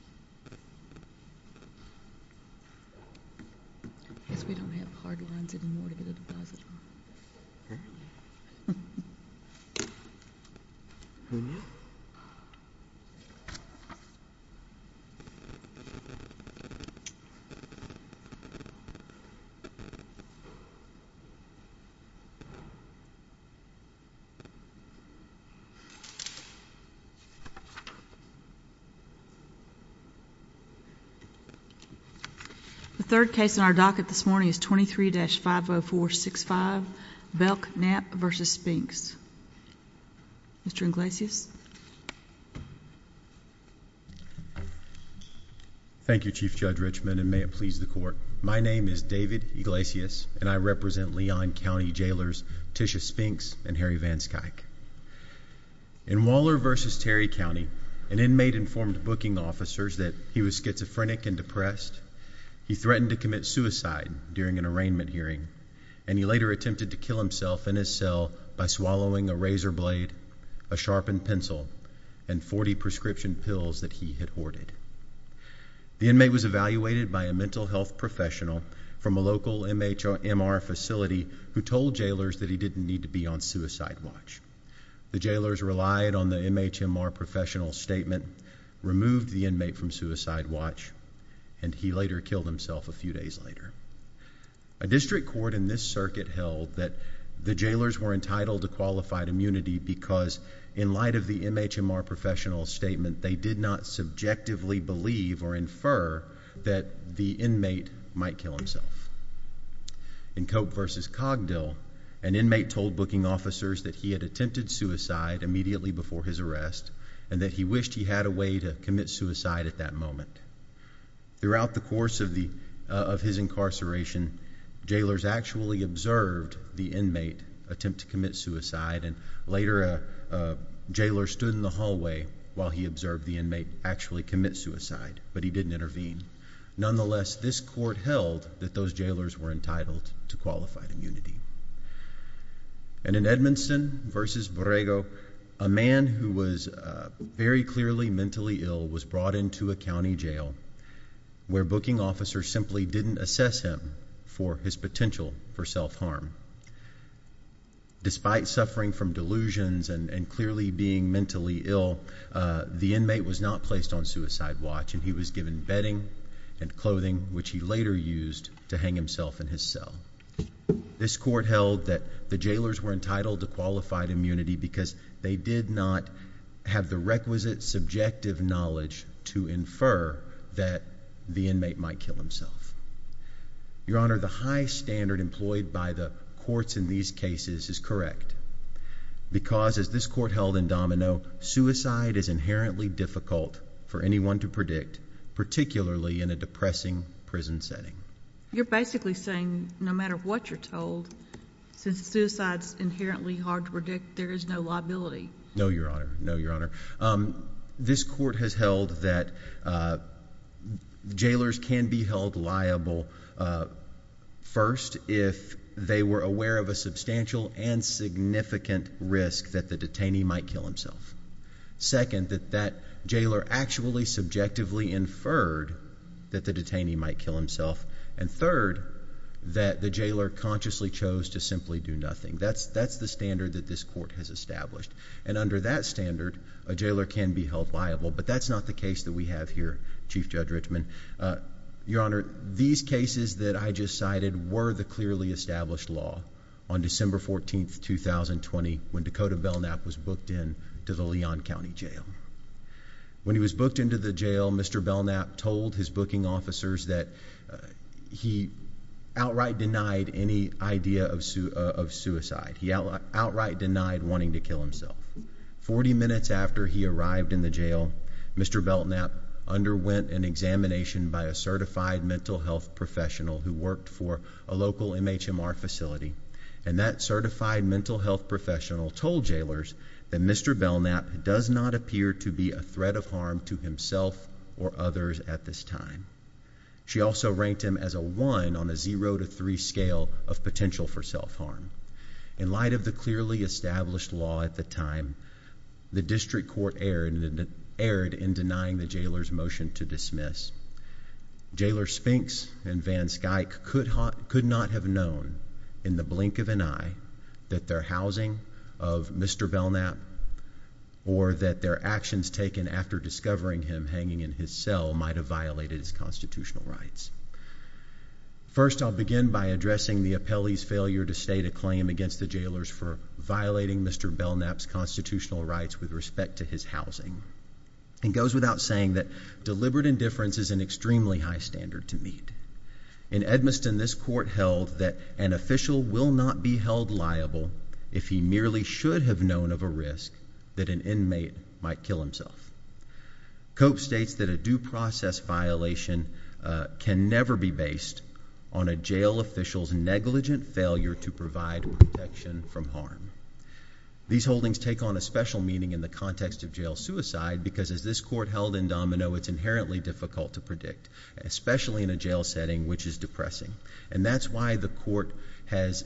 I guess we don't have hard lines anymore to get a deposit on. Huh? Who knew? The third case in our docket this morning is 23-50465 Belknap v. Spinks. Mr. Iglesias. Thank you, Chief Judge Richmond, and may it please the court. My name is David Iglesias, and I represent Leon County Jailers Tisha Spinks and Harry Vanskyke. In Waller v. Terry County, an inmate informed booking officers that he was schizophrenic and depressed. He threatened to commit suicide during an arraignment hearing, and he later attempted to kill himself in his cell by swallowing a razor blade, a sharpened pencil, and 40 prescription pills that he had hoarded. The inmate was evaluated by a mental health professional from a local MHMR facility who told jailers that he didn't need to be on suicide watch. The jailers relied on the MHMR professional's statement, removed the inmate from suicide watch, and he later killed himself a few days later. A district court in this circuit held that the jailers were entitled to qualified immunity because in light of the MHMR professional's statement, they did not subjectively believe or infer that the inmate might kill himself. In Cope v. Cogdill, an inmate told booking officers that he had attempted suicide immediately before his arrest and that he wished he had a way to commit suicide at that moment. Throughout the course of his incarceration, jailers actually observed the inmate attempt to commit suicide, and later a jailer stood in the hallway while he observed the inmate actually commit suicide, but he didn't intervene. Nonetheless, this court held that those jailers were entitled to qualified immunity. And in Edmondson v. Borrego, a man who was very clearly mentally ill was brought into a county jail where booking officers simply didn't assess him for his potential for self-harm. Despite suffering from delusions and clearly being mentally ill, the inmate was not placed on suicide watch and he was given bedding and clothing, which he later used to hang himself in his cell. This court held that the jailers were entitled to qualified immunity because they did not have the requisite subjective knowledge to infer that the inmate might kill himself. Your Honor, the high standard employed by the courts in these cases is correct because, as this court held in Domino, suicide is inherently difficult for anyone to predict, particularly in a depressing prison setting. You're basically saying no matter what you're told, since suicide is inherently hard to predict, there is no liability. No, Your Honor. No, Your Honor. This court has held that jailers can be held liable, first, if they were aware of a substantial and significant risk that the detainee might kill himself, second, that that jailer actually subjectively inferred that the detainee might kill himself, and third, that the jailer consciously chose to simply do nothing. And under that standard, a jailer can be held liable, but that's not the case that we have here, Chief Judge Richman. Your Honor, these cases that I just cited were the clearly established law on December 14, 2020, when Dakota Belknap was booked into the Leon County Jail. When he was booked into the jail, Mr. Belknap told his booking officers that he outright denied any idea of suicide. He outright denied wanting to kill himself. Forty minutes after he arrived in the jail, Mr. Belknap underwent an examination by a certified mental health professional who worked for a local MHMR facility, and that certified mental health professional told jailers that Mr. Belknap does not appear to be a threat of harm to himself or others at this time. She also ranked him as a one on a zero to three scale of potential for self-harm. In light of the clearly established law at the time, the district court erred in denying the jailer's motion to dismiss. Jailer Spinks and Van Skyke could not have known in the blink of an eye that their housing of Mr. Belknap or that their actions taken after discovering him hanging in his cell might have violated his constitutional rights. First, I'll begin by addressing the appellee's failure to state a claim against the jailers for violating Mr. Belknap's constitutional rights with respect to his housing. It goes without saying that deliberate indifference is an extremely high standard to meet. In Edmiston, this court held that an official will not be held liable if he merely should have known of a risk that an inmate might kill himself. Cope states that a due process violation can never be based on a jail official's negligent failure to provide protection from harm. These holdings take on a special meaning in the context of jail suicide because as this court held in Domino, it's inherently difficult to predict, especially in a jail setting which is depressing. And that's why the court has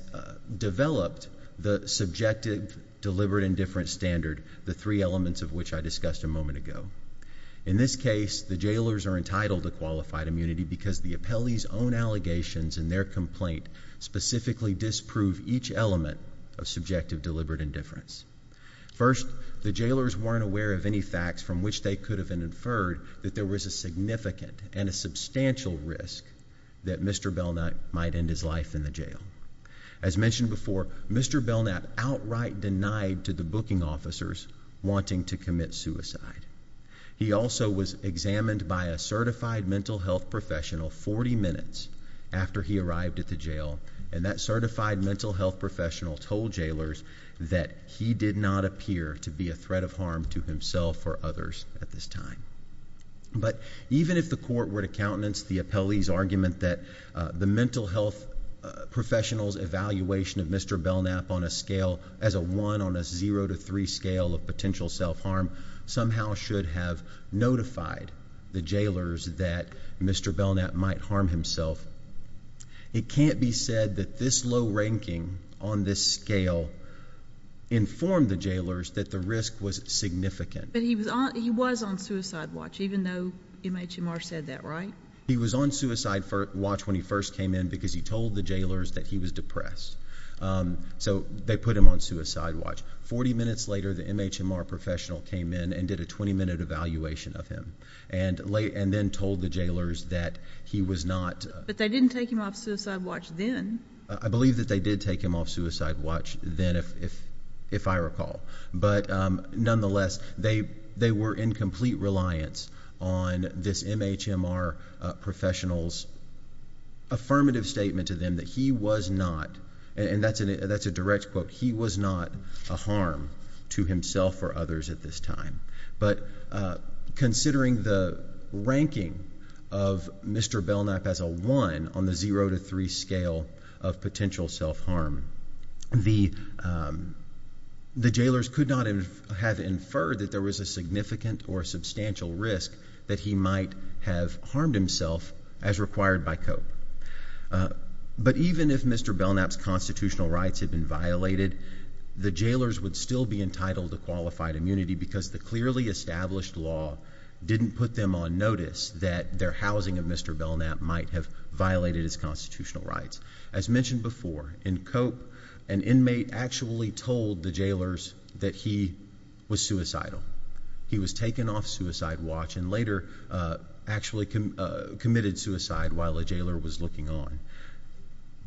developed the subjective deliberate indifference standard, the three elements of which I discussed a moment ago. In this case, the jailers are entitled to qualified immunity because the appellee's own allegations in their complaint specifically disprove each element of subjective deliberate indifference. First, the jailers weren't aware of any facts from which they could have inferred that there was a significant and a substantial risk that Mr. Belknap might end his life in the jail. As mentioned before, Mr. Belknap outright denied to the booking officers wanting to commit suicide. He also was examined by a certified mental health professional 40 minutes after he arrived at the jail, and that certified mental health professional told jailers that he did not appear to be a threat of harm to himself or others at this time. But even if the court were to countenance the appellee's argument that the mental health professional's evaluation of Mr. Belknap on a scale, as a one on a zero to three scale of potential self-harm, somehow should have notified the jailers that Mr. Belknap might harm himself, it can't be said that this low ranking on this scale informed the jailers that the risk was significant. But he was on suicide watch, even though MHMR said that, right? He was on suicide watch when he first came in because he told the jailers that he was depressed. So they put him on suicide watch. Forty minutes later, the MHMR professional came in and did a 20-minute evaluation of him and then told the jailers that he was not— But they didn't take him off suicide watch then. I believe that they did take him off suicide watch then, if I recall. But nonetheless, they were in complete reliance on this MHMR professional's affirmative statement to them that he was not, and that's a direct quote, he was not a harm to himself or others at this time. But considering the ranking of Mr. Belknap as a one on the zero to three scale of potential self-harm, the jailers could not have inferred that there was a significant or substantial risk that he might have harmed himself as required by COPE. But even if Mr. Belknap's constitutional rights had been violated, the jailers would still be entitled to qualified immunity because the clearly established law didn't put them on notice that their housing of Mr. Belknap might have violated his constitutional rights. As mentioned before, in COPE, an inmate actually told the jailers that he was suicidal. He was taken off suicide watch and later actually committed suicide while a jailer was looking on.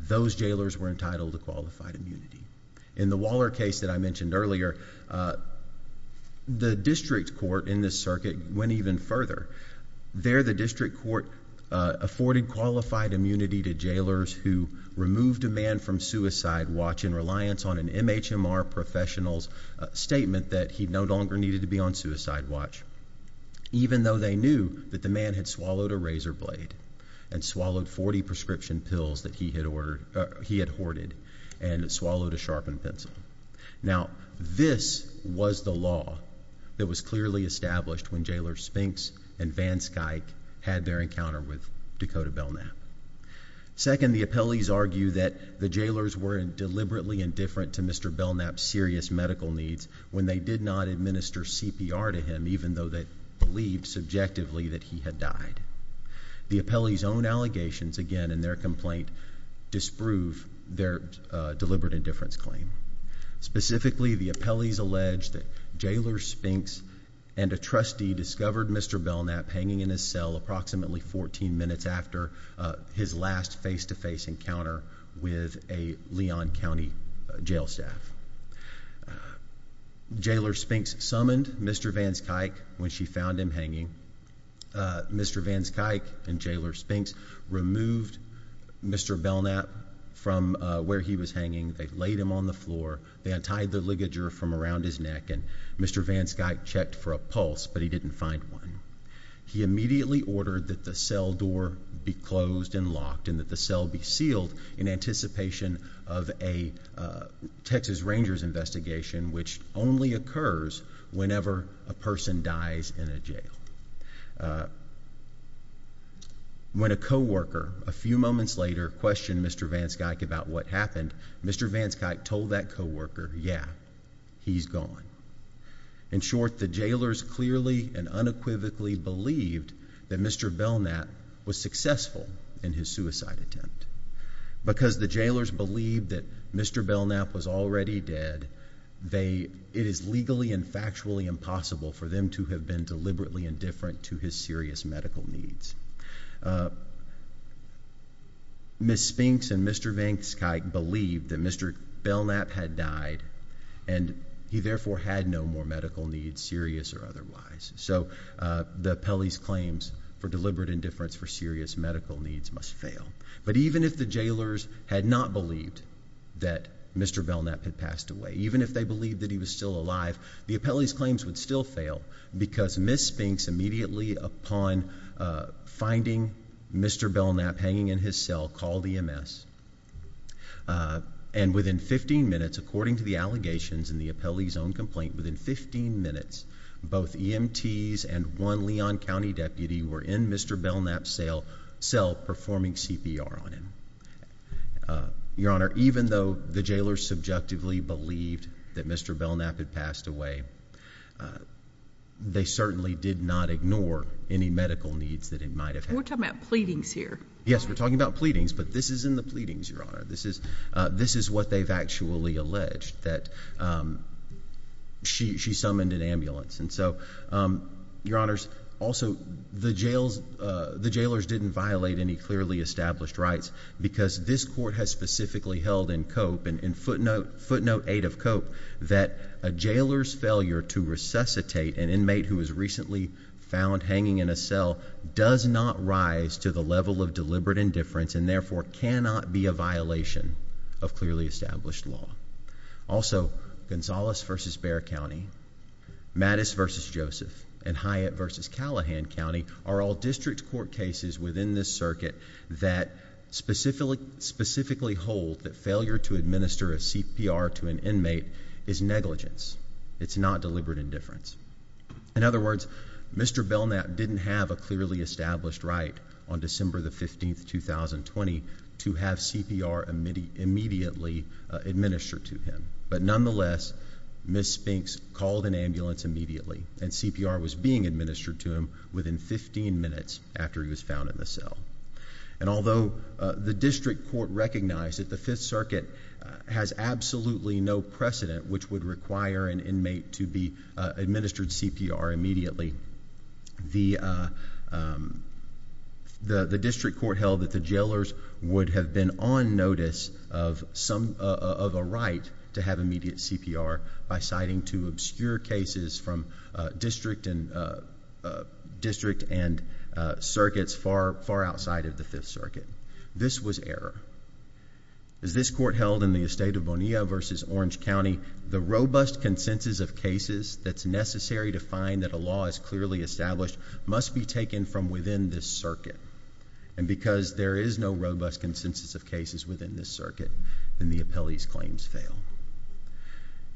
Those jailers were entitled to qualified immunity. In the Waller case that I mentioned earlier, the district court in this circuit went even further. There, the district court afforded qualified immunity to jailers who removed a man from suicide watch in reliance on an MHMR professional's statement that he no longer needed to be on suicide watch, even though they knew that the man had swallowed a razor blade and swallowed 40 prescription pills that he had hoarded and swallowed a sharpened pencil. Now, this was the law that was clearly established when Jailers Spinks and Van Skyke had their encounter with Dakota Belknap. Second, the appellees argue that the jailers were deliberately indifferent to Mr. Belknap's serious medical needs when they did not administer CPR to him, even though they believed subjectively that he had died. The appellees' own allegations, again, in their complaint disprove their deliberate indifference claim. Specifically, the appellees allege that Jailers Spinks and a trustee discovered Mr. Belknap hanging in his cell approximately 14 minutes after his last face-to-face encounter with a Leon County jail staff. Jailers Spinks summoned Mr. Van Skyke when she found him hanging. Mr. Van Skyke and Jailers Spinks removed Mr. Belknap from where he was hanging. They laid him on the floor. They untied the ligature from around his neck, and Mr. Van Skyke checked for a pulse, but he didn't find one. He immediately ordered that the cell door be closed and locked and that the cell be sealed in anticipation of a Texas Rangers investigation, which only occurs whenever a person dies in a jail. When a co-worker, a few moments later, questioned Mr. Van Skyke about what happened, Mr. Van Skyke told that co-worker, yeah, he's gone. In short, the Jailers clearly and unequivocally believed that Mr. Belknap was successful in his suicide attempt. Because the Jailers believed that Mr. Belknap was already dead, it is legally and factually impossible for them to have been deliberately indifferent to his serious medical needs. Ms. Spinks and Mr. Van Skyke believed that Mr. Belknap had died, and he therefore had no more medical needs, serious or otherwise. So the appellee's claims for deliberate indifference for serious medical needs must fail. But even if the Jailers had not believed that Mr. Belknap had passed away, even if they believed that he was still alive, the appellee's claims would still fail because Ms. Spinks immediately upon finding Mr. Belknap hanging in his cell called EMS. And within 15 minutes, according to the allegations in the appellee's own complaint, within 15 minutes, both EMTs and one Leon County deputy were in Mr. Belknap's cell performing CPR on him. Your Honor, even though the Jailers subjectively believed that Mr. Belknap had passed away, they certainly did not ignore any medical needs that he might have had. We're talking about pleadings here. Yes, we're talking about pleadings, but this isn't the pleadings, Your Honor. This is what they've actually alleged, that she summoned an ambulance. And so, Your Honors, also the Jailers didn't violate any clearly established rights because this Court has specifically held in Cope, in footnote 8 of Cope, that a Jailer's failure to resuscitate an inmate who was recently found hanging in a cell does not rise to the level of deliberate indifference and therefore cannot be a violation of clearly established law. Also, Gonzales v. Bexar County, Mattis v. Joseph, and Hyatt v. Callahan County are all district court cases within this circuit that specifically hold that failure to administer a CPR to an inmate is negligence. It's not deliberate indifference. In other words, Mr. Belknap didn't have a clearly established right on December 15, 2020 to have CPR immediately administered to him. But nonetheless, Ms. Spinks called an ambulance immediately and CPR was being administered to him within 15 minutes after he was found in the cell. And although the district court recognized that the Fifth Circuit has absolutely no precedent which would require an inmate to be administered CPR immediately, the district court held that the Jailers would have been on notice of a right to have immediate CPR by citing two obscure cases from district and circuits far outside of the Fifth Circuit. This was error. As this court held in the estate of Bonilla v. Orange County, the robust consensus of cases that's necessary to find that a law is clearly established must be taken from within this circuit. And because there is no robust consensus of cases within this circuit, then the appellee's claims fail.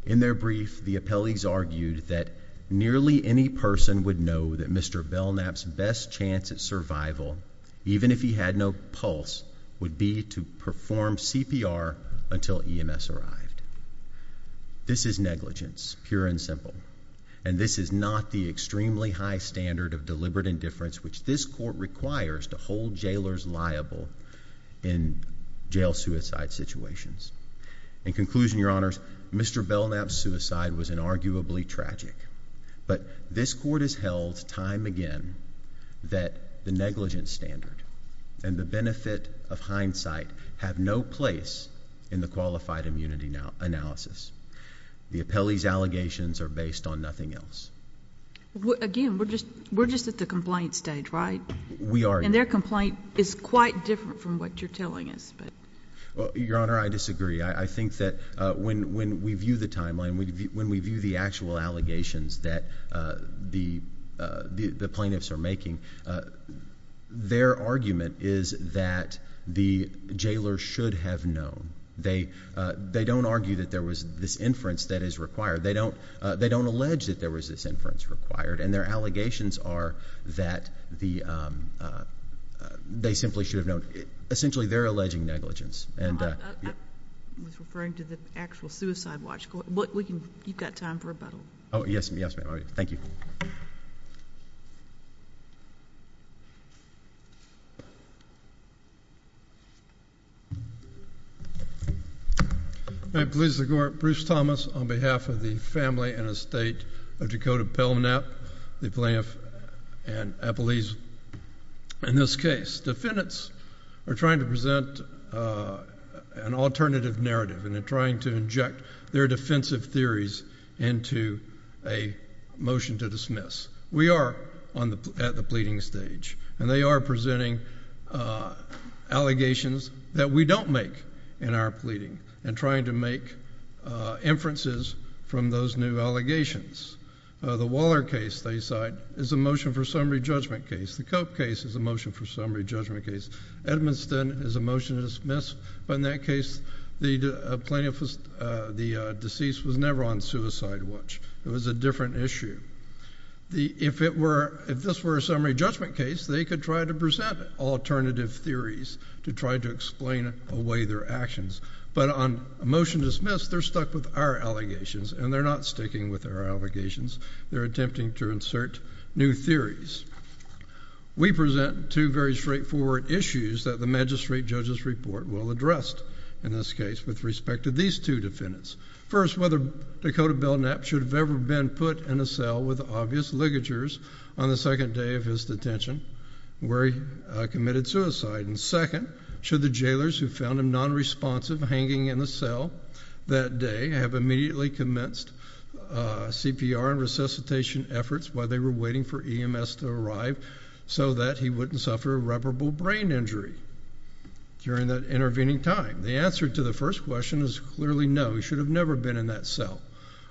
In their brief, the appellees argued that nearly any person would know that Mr. Belknap's best chance at survival, even if he had no pulse, would be to perform CPR until EMS arrived. This is negligence, pure and simple. And this is not the extremely high standard of deliberate indifference which this court requires to hold Jailers liable in jail suicide situations. In conclusion, Your Honors, Mr. Belknap's suicide was inarguably tragic. But this court has held time again that the negligence standard and the benefit of hindsight have no place in the qualified immunity analysis. The appellee's allegations are based on nothing else. Again, we're just at the complaint stage, right? We are. And their complaint is quite different from what you're telling us. Well, Your Honor, I disagree. I think that when we view the timeline, when we view the actual allegations that the plaintiffs are making, their argument is that the Jailer should have known. They don't argue that there was this inference that is required. They don't allege that there was this inference required. And their allegations are that they simply should have known. Essentially, they're alleging negligence. I was referring to the actual suicide watch. You've got time for rebuttal. Oh, yes, ma'am. Thank you. Appellees, the Court. Bruce Thomas on behalf of the family and estate of Dakota Belknap, the plaintiff, and appellees in this case. Defendants are trying to present an alternative narrative. And they're trying to inject their defensive theories into a motion to dismiss. We are at the pleading stage. And they are presenting allegations that we don't make in our pleading and trying to make inferences from those new allegations. The Waller case, they cite, is a motion for summary judgment case. The Cope case is a motion for summary judgment case. Edmundston is a motion to dismiss. But in that case, the plaintiff, the deceased, was never on suicide watch. It was a different issue. If this were a summary judgment case, they could try to present alternative theories to try to explain away their actions. But on a motion to dismiss, they're stuck with our allegations, and they're not sticking with our allegations. They're attempting to insert new theories. We present two very straightforward issues that the magistrate judge's report will address, in this case, with respect to these two defendants. First, whether Dakota Belknap should have ever been put in a cell with obvious ligatures on the second day of his detention where he committed suicide. And second, should the jailers who found him nonresponsive hanging in the cell that day have immediately commenced CPR and resuscitation efforts while they were waiting for EMS to arrive so that he wouldn't suffer irreparable brain injury during that intervening time? The answer to the first question is clearly no. He should have never been in that cell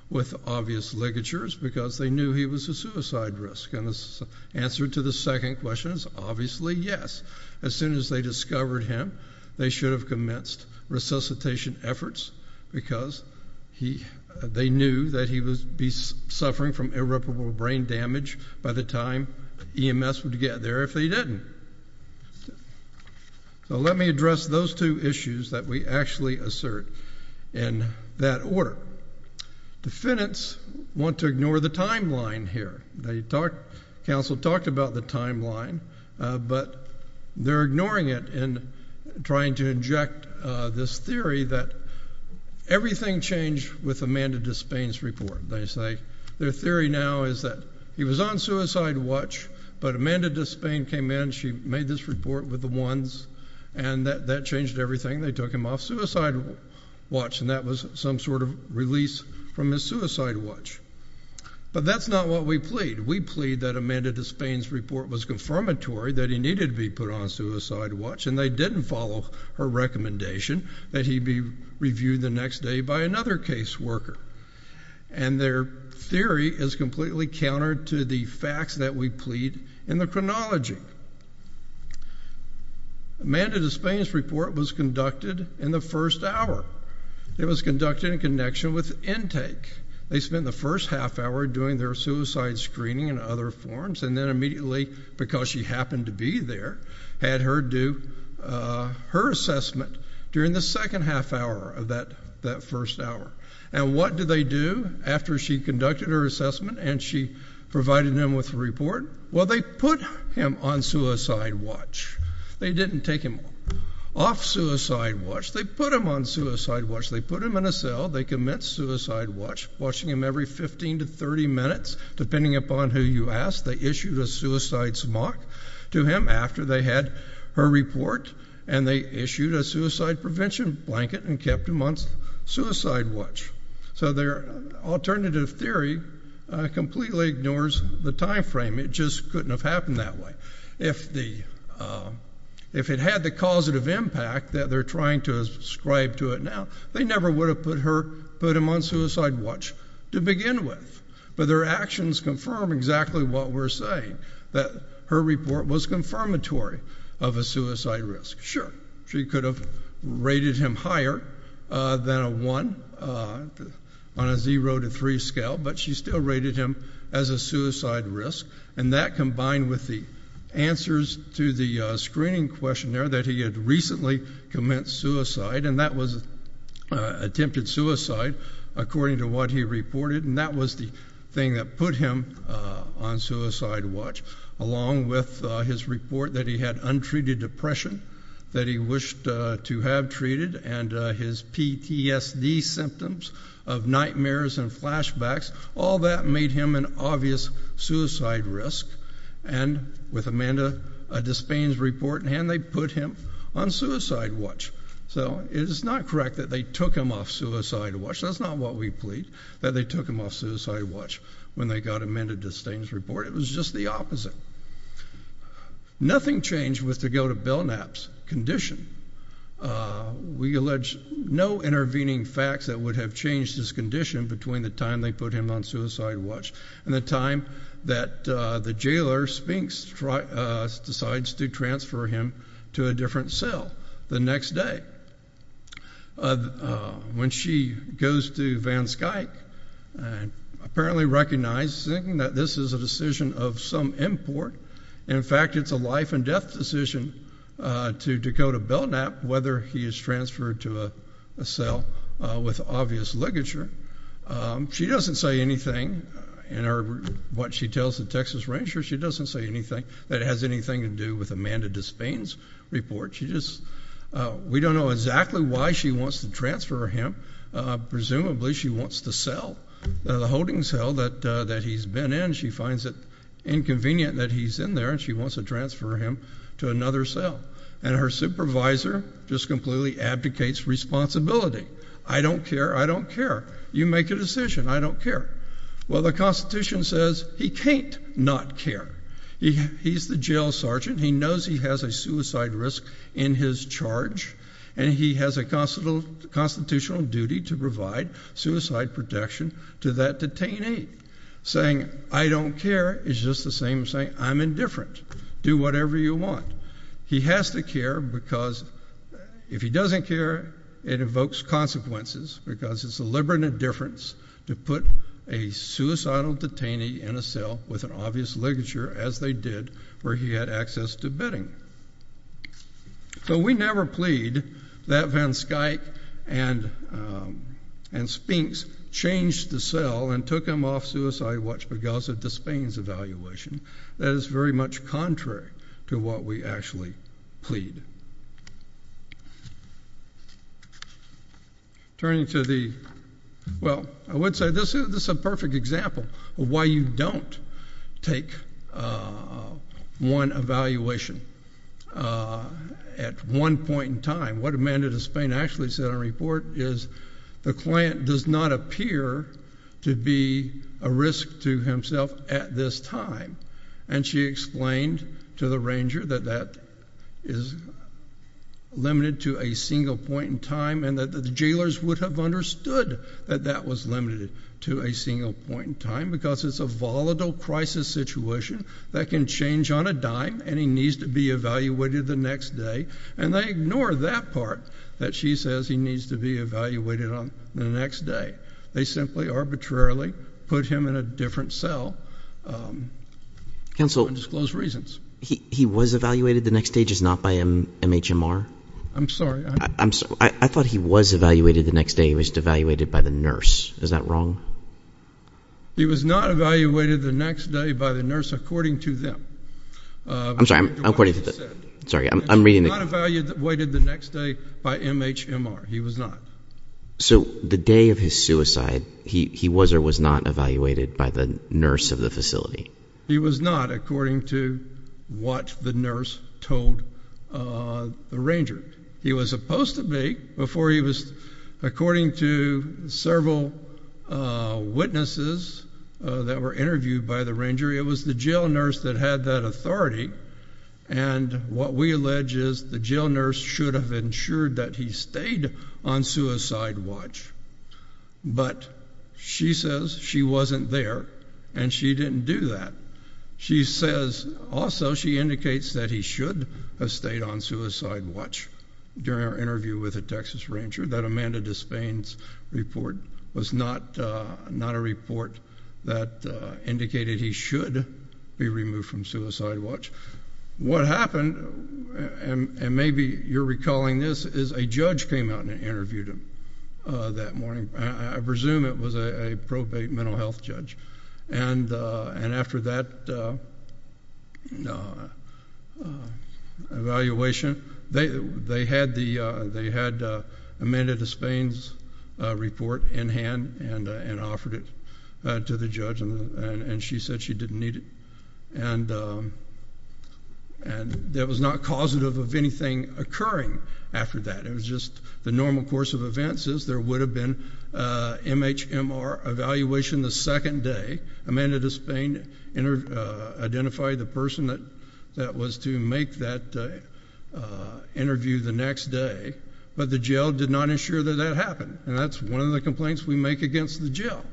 with obvious ligatures because they knew he was a suicide risk. And the answer to the second question is obviously yes. As soon as they discovered him, they should have commenced resuscitation efforts because they knew that he would be suffering from irreparable brain damage by the time EMS would get there if they didn't. So let me address those two issues that we actually assert in that order. Defendants want to ignore the timeline here. The counsel talked about the timeline, but they're ignoring it and trying to inject this theory that everything changed with Amanda Despain's report. They say their theory now is that he was on suicide watch, but Amanda Despain came in, she made this report with the ones, and that changed everything. They took him off suicide watch, and that was some sort of release from his suicide watch. But that's not what we plead. We plead that Amanda Despain's report was confirmatory that he needed to be put on suicide watch, and they didn't follow her recommendation that he be reviewed the next day by another caseworker. And their theory is completely countered to the facts that we plead in the chronology. Amanda Despain's report was conducted in the first hour. It was conducted in connection with intake. They spent the first half hour doing their suicide screening and other forms, and then immediately, because she happened to be there, had her do her assessment during the second half hour of that first hour. And what did they do after she conducted her assessment and she provided them with a report? Well, they put him on suicide watch. They didn't take him off suicide watch. They put him on suicide watch. They put him in a cell. They commenced suicide watch, watching him every 15 to 30 minutes. Depending upon who you ask, they issued a suicide smock to him after they had her report, and they issued a suicide prevention blanket and kept him on suicide watch. So their alternative theory completely ignores the time frame. It just couldn't have happened that way. If it had the causative impact that they're trying to ascribe to it now, they never would have put him on suicide watch to begin with. But their actions confirm exactly what we're saying, that her report was confirmatory of a suicide risk. Sure, she could have rated him higher than a 1 on a 0 to 3 scale, but she still rated him as a suicide risk, and that combined with the answers to the screening questionnaire that he had recently commenced suicide, and that was attempted suicide according to what he reported, and that was the thing that put him on suicide watch, along with his report that he had untreated depression that he wished to have treated and his PTSD symptoms of nightmares and flashbacks. All that made him an obvious suicide risk, and with Amanda Despain's report in hand, they put him on suicide watch. So it is not correct that they took him off suicide watch. That's not what we plead, that they took him off suicide watch when they got Amanda Despain's report. It was just the opposite. Nothing changed with the go-to-bell naps condition. We allege no intervening facts that would have changed his condition between the time they put him on suicide watch and the time that the jailer, Spinks, decides to transfer him to a different cell the next day. When she goes to Van Skyke, apparently recognizing that this is a decision of some import, and, in fact, it's a life-and-death decision to go to bell nap, whether he is transferred to a cell with obvious ligature, she doesn't say anything in what she tells the Texas Ranger. She doesn't say anything that has anything to do with Amanda Despain's report. We don't know exactly why she wants to transfer him. Presumably she wants the cell, the holding cell that he's been in. She finds it inconvenient that he's in there, and she wants to transfer him to another cell. And her supervisor just completely abdicates responsibility. I don't care. I don't care. You make a decision. I don't care. Well, the Constitution says he can't not care. He's the jail sergeant. He knows he has a suicide risk in his charge, and he has a constitutional duty to provide suicide protection to that detainee, saying, I don't care is just the same as saying, I'm indifferent. Do whatever you want. He has to care because if he doesn't care, it evokes consequences, because it's a liberal indifference to put a suicidal detainee in a cell with an obvious ligature, as they did where he had access to bedding. So we never plead that Van Skuyck and Spinks changed the cell and took him off suicide watch because of the Spain's evaluation. That is very much contrary to what we actually plead. Turning to the, well, I would say this is a perfect example of why you don't take one evaluation at one point in time. What Amanda de Spain actually said in her report is the client does not appear to be a risk to himself at this time. And she explained to the ranger that that is limited to a single point in time and that the jailers would have understood that that was limited to a single point in time because it's a volatile crisis situation that can change on a dime, and he needs to be evaluated the next day. And they ignore that part that she says he needs to be evaluated on the next day. They simply arbitrarily put him in a different cell for undisclosed reasons. Counsel, he was evaluated the next day, just not by MHMR? I'm sorry. I thought he was evaluated the next day. He was evaluated by the nurse. Is that wrong? He was not evaluated the next day by the nurse according to them. I'm sorry. I'm reading it. He was not evaluated the next day by MHMR. He was not. So the day of his suicide, he was or was not evaluated by the nurse of the facility? He was not according to what the nurse told the ranger. He was supposed to be before he was. According to several witnesses that were interviewed by the ranger, it was the jail nurse that had that authority, and what we allege is the jail nurse should have ensured that he stayed on suicide watch. But she says she wasn't there, and she didn't do that. She says also she indicates that he should have stayed on suicide watch. During our interview with the Texas ranger, that Amanda Despain's report was not a report that indicated he should be removed from suicide watch. What happened, and maybe you're recalling this, is a judge came out and interviewed him that morning. I presume it was a probate mental health judge. After that evaluation, they had Amanda Despain's report in hand and offered it to the judge, and she said she didn't need it. It was not causative of anything occurring after that. It was just the normal course of events is there would have been MHMR evaluation the second day. Amanda Despain identified the person that was to make that interview the next day, but the jail did not ensure that that happened, and that's one of the complaints we make against the jail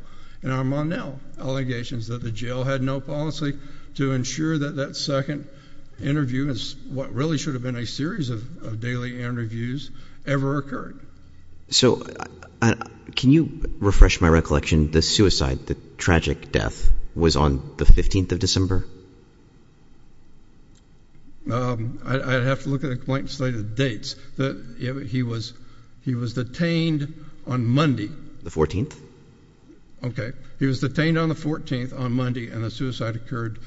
in our Mon-El allegations, that the jail had no policy to ensure that that second interview is what really should have been a series of daily interviews ever occurred. So can you refresh my recollection? The suicide, the tragic death, was on the 15th of December? I'd have to look at a blank slate of dates. He was detained on Monday. The 14th? Okay. He was detained on the 14th on Monday, and the suicide occurred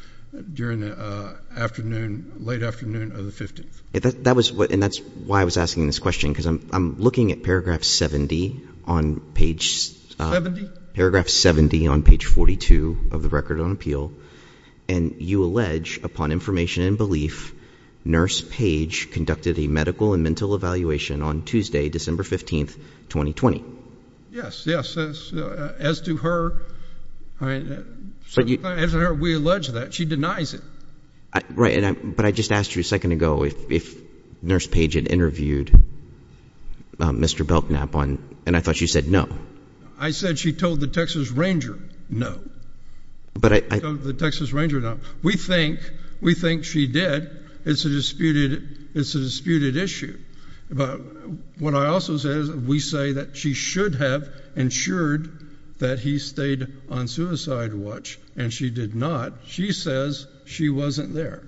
during the afternoon, late afternoon of the 15th. And that's why I was asking this question, because I'm looking at paragraph 70 on page 42 of the Record on Appeal, and you allege, upon information and belief, Nurse Page conducted a medical and mental evaluation on Tuesday, December 15th, 2020. Yes, yes. As to her, we allege that. She denies it. Right, but I just asked you a second ago if Nurse Page had interviewed Mr. Belknap, and I thought you said no. I said she told the Texas Ranger no. She told the Texas Ranger no. We think she did. It's a disputed issue. What I also say is we say that she should have ensured that he stayed on suicide watch, and she did not. She says she wasn't there.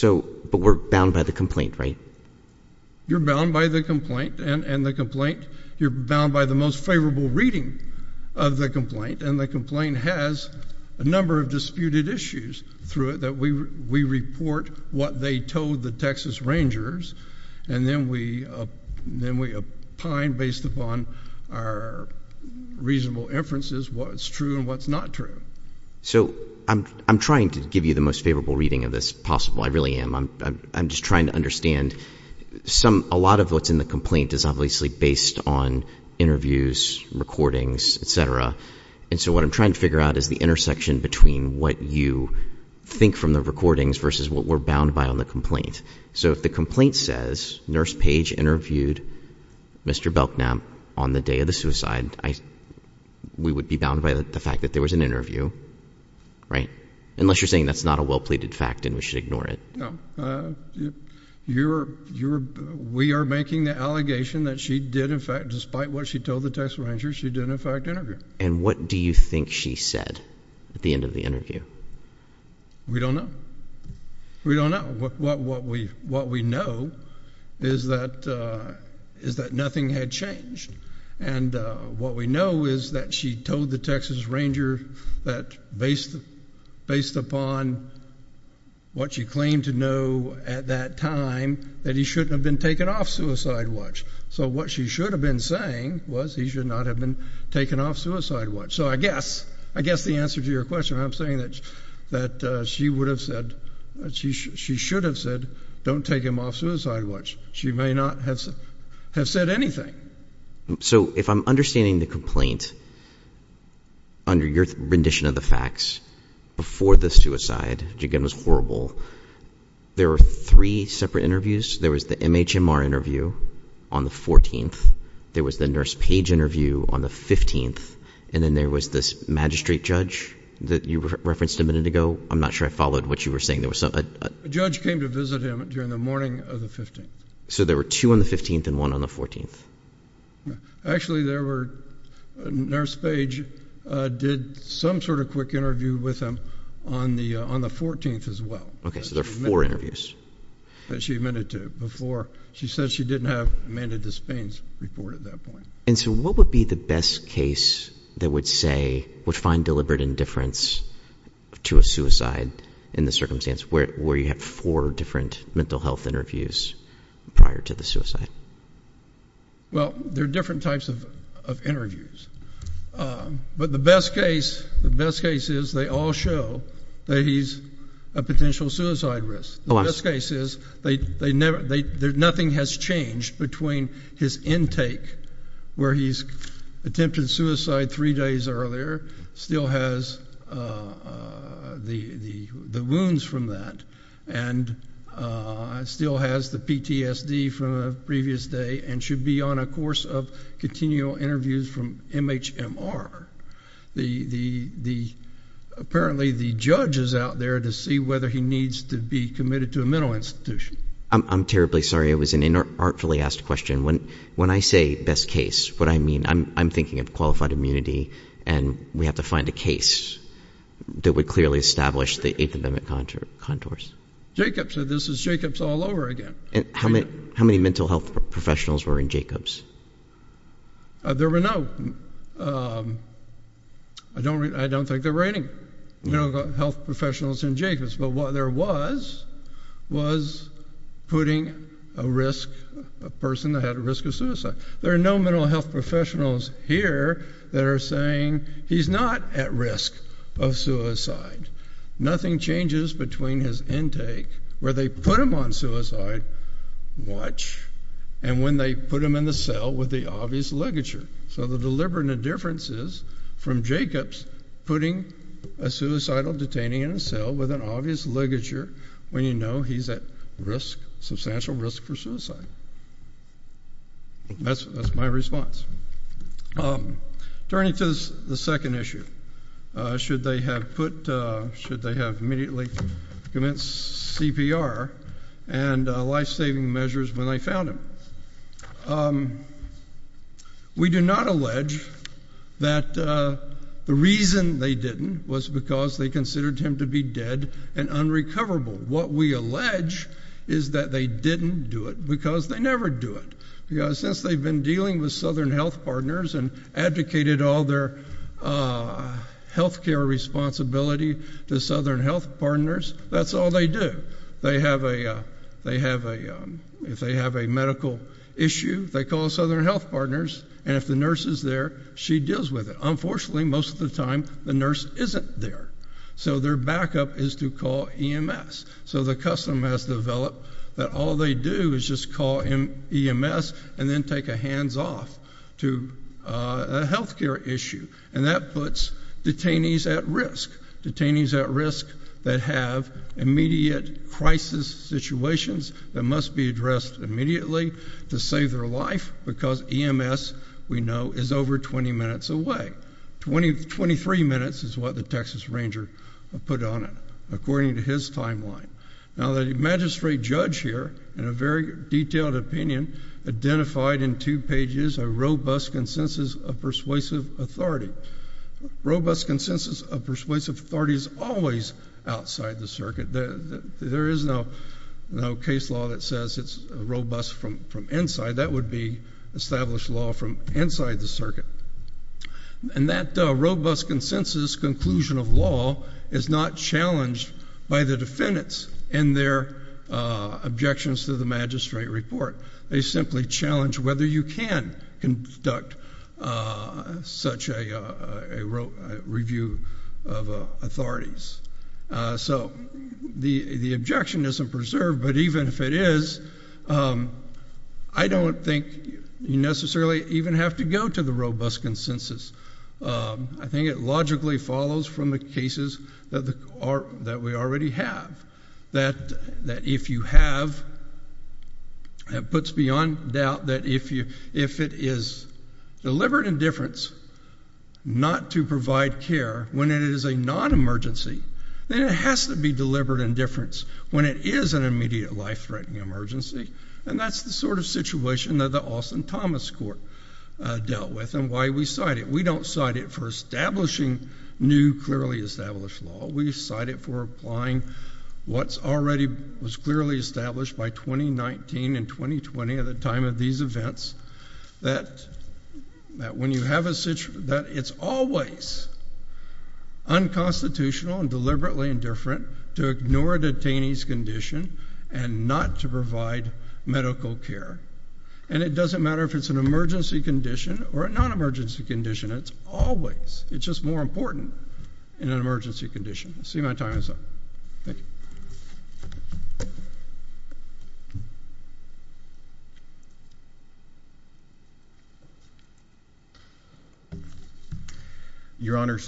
But we're bound by the complaint, right? You're bound by the complaint and the complaint. You're bound by the most favorable reading of the complaint, and the complaint has a number of disputed issues through it that we report what they told the Texas Rangers, and then we opine based upon our reasonable inferences what's true and what's not true. So I'm trying to give you the most favorable reading of this possible. I really am. I'm just trying to understand. A lot of what's in the complaint is obviously based on interviews, recordings, et cetera, and so what I'm trying to figure out is the intersection between what you think from the recordings versus what we're bound by on the complaint. So if the complaint says Nurse Page interviewed Mr. Belknap on the day of the suicide, we would be bound by the fact that there was an interview, right? Unless you're saying that's not a well-pleaded fact and we should ignore it. No. We are making the allegation that she did, in fact, despite what she told the Texas Rangers, she did, in fact, interview. And what do you think she said at the end of the interview? We don't know. We don't know. What we know is that nothing had changed. And what we know is that she told the Texas Rangers that based upon what she claimed to know at that time, that he shouldn't have been taken off suicide watch. So what she should have been saying was he should not have been taken off suicide watch. So I guess the answer to your question, I'm saying that she would have said, she should have said, don't take him off suicide watch. She may not have said anything. So if I'm understanding the complaint, under your rendition of the facts, before the suicide, which, again, was horrible, there were three separate interviews. There was the MHMR interview on the 14th. There was the Nurse Page interview on the 15th. And then there was this magistrate judge that you referenced a minute ago. I'm not sure I followed what you were saying. A judge came to visit him during the morning of the 15th. So there were two on the 15th and one on the 14th. Actually, Nurse Page did some sort of quick interview with him on the 14th as well. Okay, so there were four interviews. That she admitted to before. She said she didn't have Amanda Despain's report at that point. And so what would be the best case that would say, would find deliberate indifference to a suicide in this circumstance, where you have four different mental health interviews prior to the suicide? Well, there are different types of interviews. But the best case is they all show that he's a potential suicide risk. The best case is nothing has changed between his intake, where he's attempted suicide three days earlier, still has the wounds from that, and still has the PTSD from a previous day, and should be on a course of continual interviews from MHMR. Apparently the judge is out there to see whether he needs to be committed to a mental institution. I'm terribly sorry. It was an artfully asked question. When I say best case, what I mean, I'm thinking of qualified immunity, and we have to find a case that would clearly establish the 8th Amendment contours. Jacobs. This is Jacobs all over again. How many mental health professionals were in Jacobs? There were no. I don't think there were any mental health professionals in Jacobs, but what there was was putting a person at risk of suicide. There are no mental health professionals here that are saying he's not at risk of suicide. Nothing changes between his intake. Where they put him on suicide, watch. And when they put him in the cell with the obvious ligature. So the deliberate indifference is from Jacobs putting a suicidal detainee in a cell with an obvious ligature when you know he's at substantial risk for suicide. That's my response. Turning to the second issue. Should they have immediately commenced CPR and life-saving measures when they found him. We do not allege that the reason they didn't was because they considered him to be dead and unrecoverable. What we allege is that they didn't do it because they never do it. Because since they've been dealing with Southern Health Partners and advocated all their health care responsibility to Southern Health Partners, that's all they do. If they have a medical issue, they call Southern Health Partners. And if the nurse is there, she deals with it. Unfortunately, most of the time, the nurse isn't there. So their backup is to call EMS. So the custom has developed that all they do is just call EMS and then take a hands-off to a health care issue. And that puts detainees at risk. Detainees at risk that have immediate crisis situations that must be addressed immediately to save their life because EMS, we know, is over 20 minutes away. 23 minutes is what the Texas Ranger put on it. Now, the magistrate judge here, in a very detailed opinion, identified in two pages a robust consensus of persuasive authority. Robust consensus of persuasive authority is always outside the circuit. There is no case law that says it's robust from inside. And that robust consensus conclusion of law is not challenged by the defendants and their objections to the magistrate report. They simply challenge whether you can conduct such a review of authorities. So the objection isn't preserved, but even if it is, I don't think you necessarily even have to go to the robust consensus. I think it logically follows from the cases that we already have, that if you have, it puts beyond doubt that if it is deliberate indifference not to provide care when it is a non-emergency, then it has to be deliberate indifference when it is an immediate life-threatening emergency. And that's the sort of situation that the Austin-Thomas Court dealt with and why we cite it. We don't cite it for establishing new, clearly established law. We cite it for applying what already was clearly established by 2019 and 2020 at the time of these events, that it's always unconstitutional and deliberately indifferent to ignore a detainee's condition and not to provide medical care. And it doesn't matter if it's an emergency condition or a non-emergency condition. It's always, it's just more important in an emergency condition. I see my time is up. Thank you. Your Honor,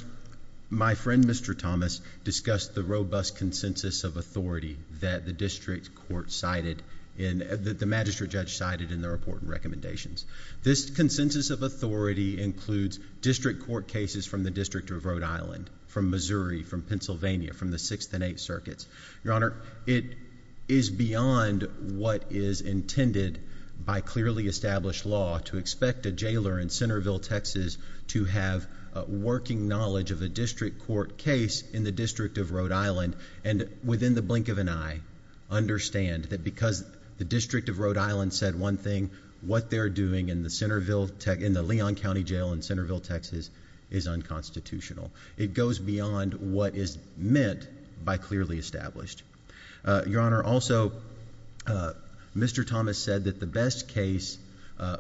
my friend Mr. Thomas discussed the robust consensus of authority that the district court cited, that the magistrate judge cited in the report and recommendations. This consensus of authority includes district court cases from the District of Rhode Island, from Missouri, from Pennsylvania, from the Sixth and Eighth Circuits. Your Honor, it is beyond what is intended by clearly established law to expect a jailer in Centerville, Texas, to have working knowledge of a district court case in the District of Rhode Island, and within the blink of an eye, understand that because the District of Rhode Island said one thing, what they're doing in the Leon County Jail in Centerville, Texas, is unconstitutional. It goes beyond what is meant by clearly established. Your Honor, also, Mr. Thomas said that the best case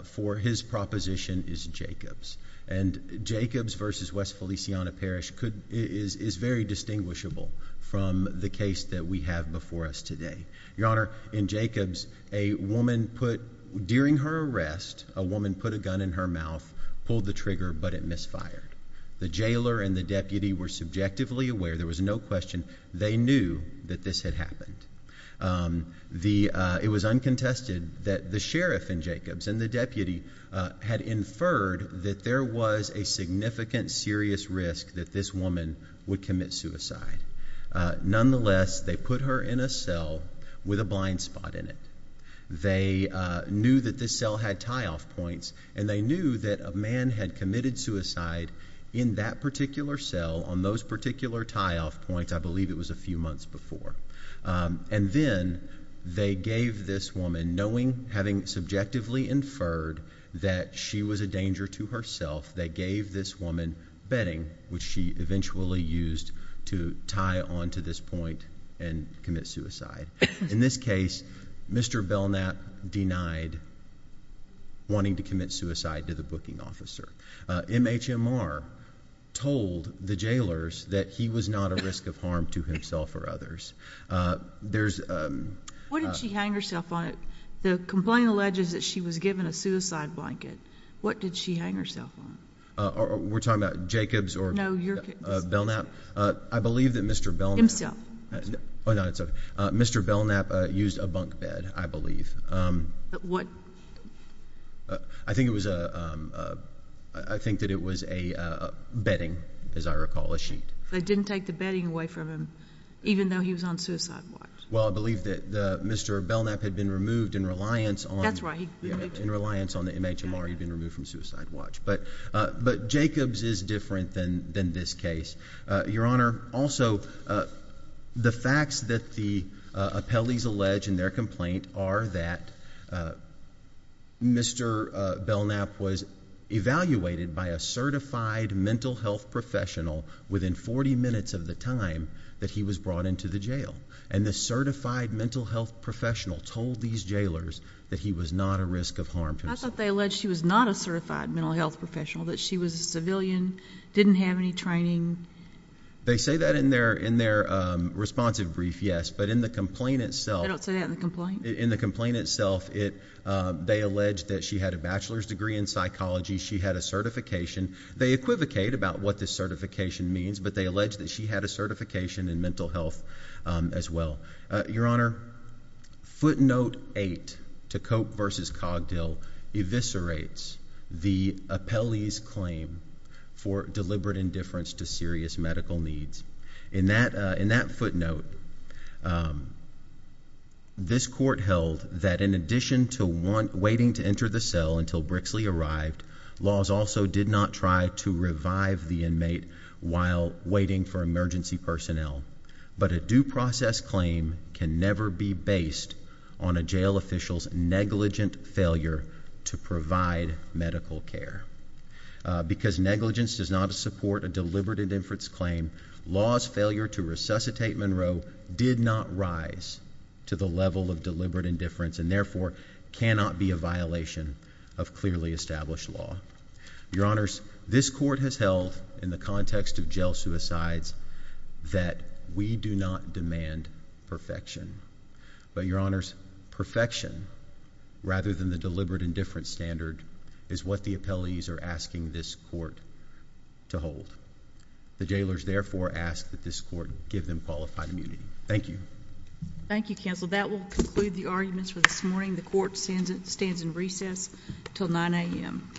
for his proposition is Jacobs. And Jacobs versus West Feliciana Parish is very distinguishable from the case that we have before us today. Your Honor, in Jacobs, a woman put, during her arrest, a woman put a gun in her mouth, pulled the trigger, but it misfired. The jailer and the deputy were subjectively aware, there was no question, they knew that this had happened. It was uncontested that the sheriff in Jacobs and the deputy had inferred that there was a significant, serious risk that this woman would commit suicide. Nonetheless, they put her in a cell with a blind spot in it. They knew that this cell had tie-off points, and they knew that a man had committed suicide in that particular cell, on those particular tie-off points, I believe it was a few months before. And then they gave this woman, knowing, having subjectively inferred that she was a danger to herself, they gave this woman bedding, which she eventually used to tie onto this point and commit suicide. In this case, Mr. Belknap denied wanting to commit suicide to the booking officer. MHMR told the jailers that he was not a risk of harm to himself or others. What did she hang herself on? The complaint alleges that she was given a suicide blanket. What did she hang herself on? We're talking about Jacobs or Belknap? I believe that Mr. Belknap. Himself. Oh, no, it's okay. Mr. Belknap used a bunk bed, I believe. What? I think that it was a bedding, as I recall, a sheet. They didn't take the bedding away from him, even though he was on suicide watch? Well, I believe that Mr. Belknap had been removed in reliance on the MHMR. He'd been removed from suicide watch. But Jacobs is different than this case. Your Honor, also, the facts that the appellees allege in their complaint are that Mr. Belknap was evaluated by a certified mental health professional within 40 minutes of the time that he was brought into the jail. And the certified mental health professional told these jailers that he was not a risk of harm to himself. I thought they alleged she was not a certified mental health professional, that she was a civilian, didn't have any training. They say that in their responsive brief, yes, but in the complaint itself. I don't say that in the complaint. In the complaint itself, they allege that she had a bachelor's degree in psychology, she had a certification. They equivocate about what the certification means, but they allege that she had a certification in mental health as well. Your Honor, footnote 8 to Cope v. Cogdill eviscerates the appellee's claim for deliberate indifference to serious medical needs. In that footnote, this court held that in addition to waiting to enter the cell until Brixley arrived, laws also did not try to revive the inmate while waiting for emergency personnel. But a due process claim can never be based on a jail official's negligent failure to provide medical care. Because negligence does not support a deliberate indifference claim, law's failure to resuscitate Monroe did not rise to the level of deliberate indifference and therefore cannot be a violation of clearly established law. Your Honors, this court has held in the context of jail suicides that we do not demand perfection. But, Your Honors, perfection rather than the deliberate indifference standard is what the appellees are asking this court to hold. The jailers therefore ask that this court give them qualified immunity. Thank you. Thank you, Counsel. That will conclude the arguments for this morning. The court stands in recess until 9 a.m.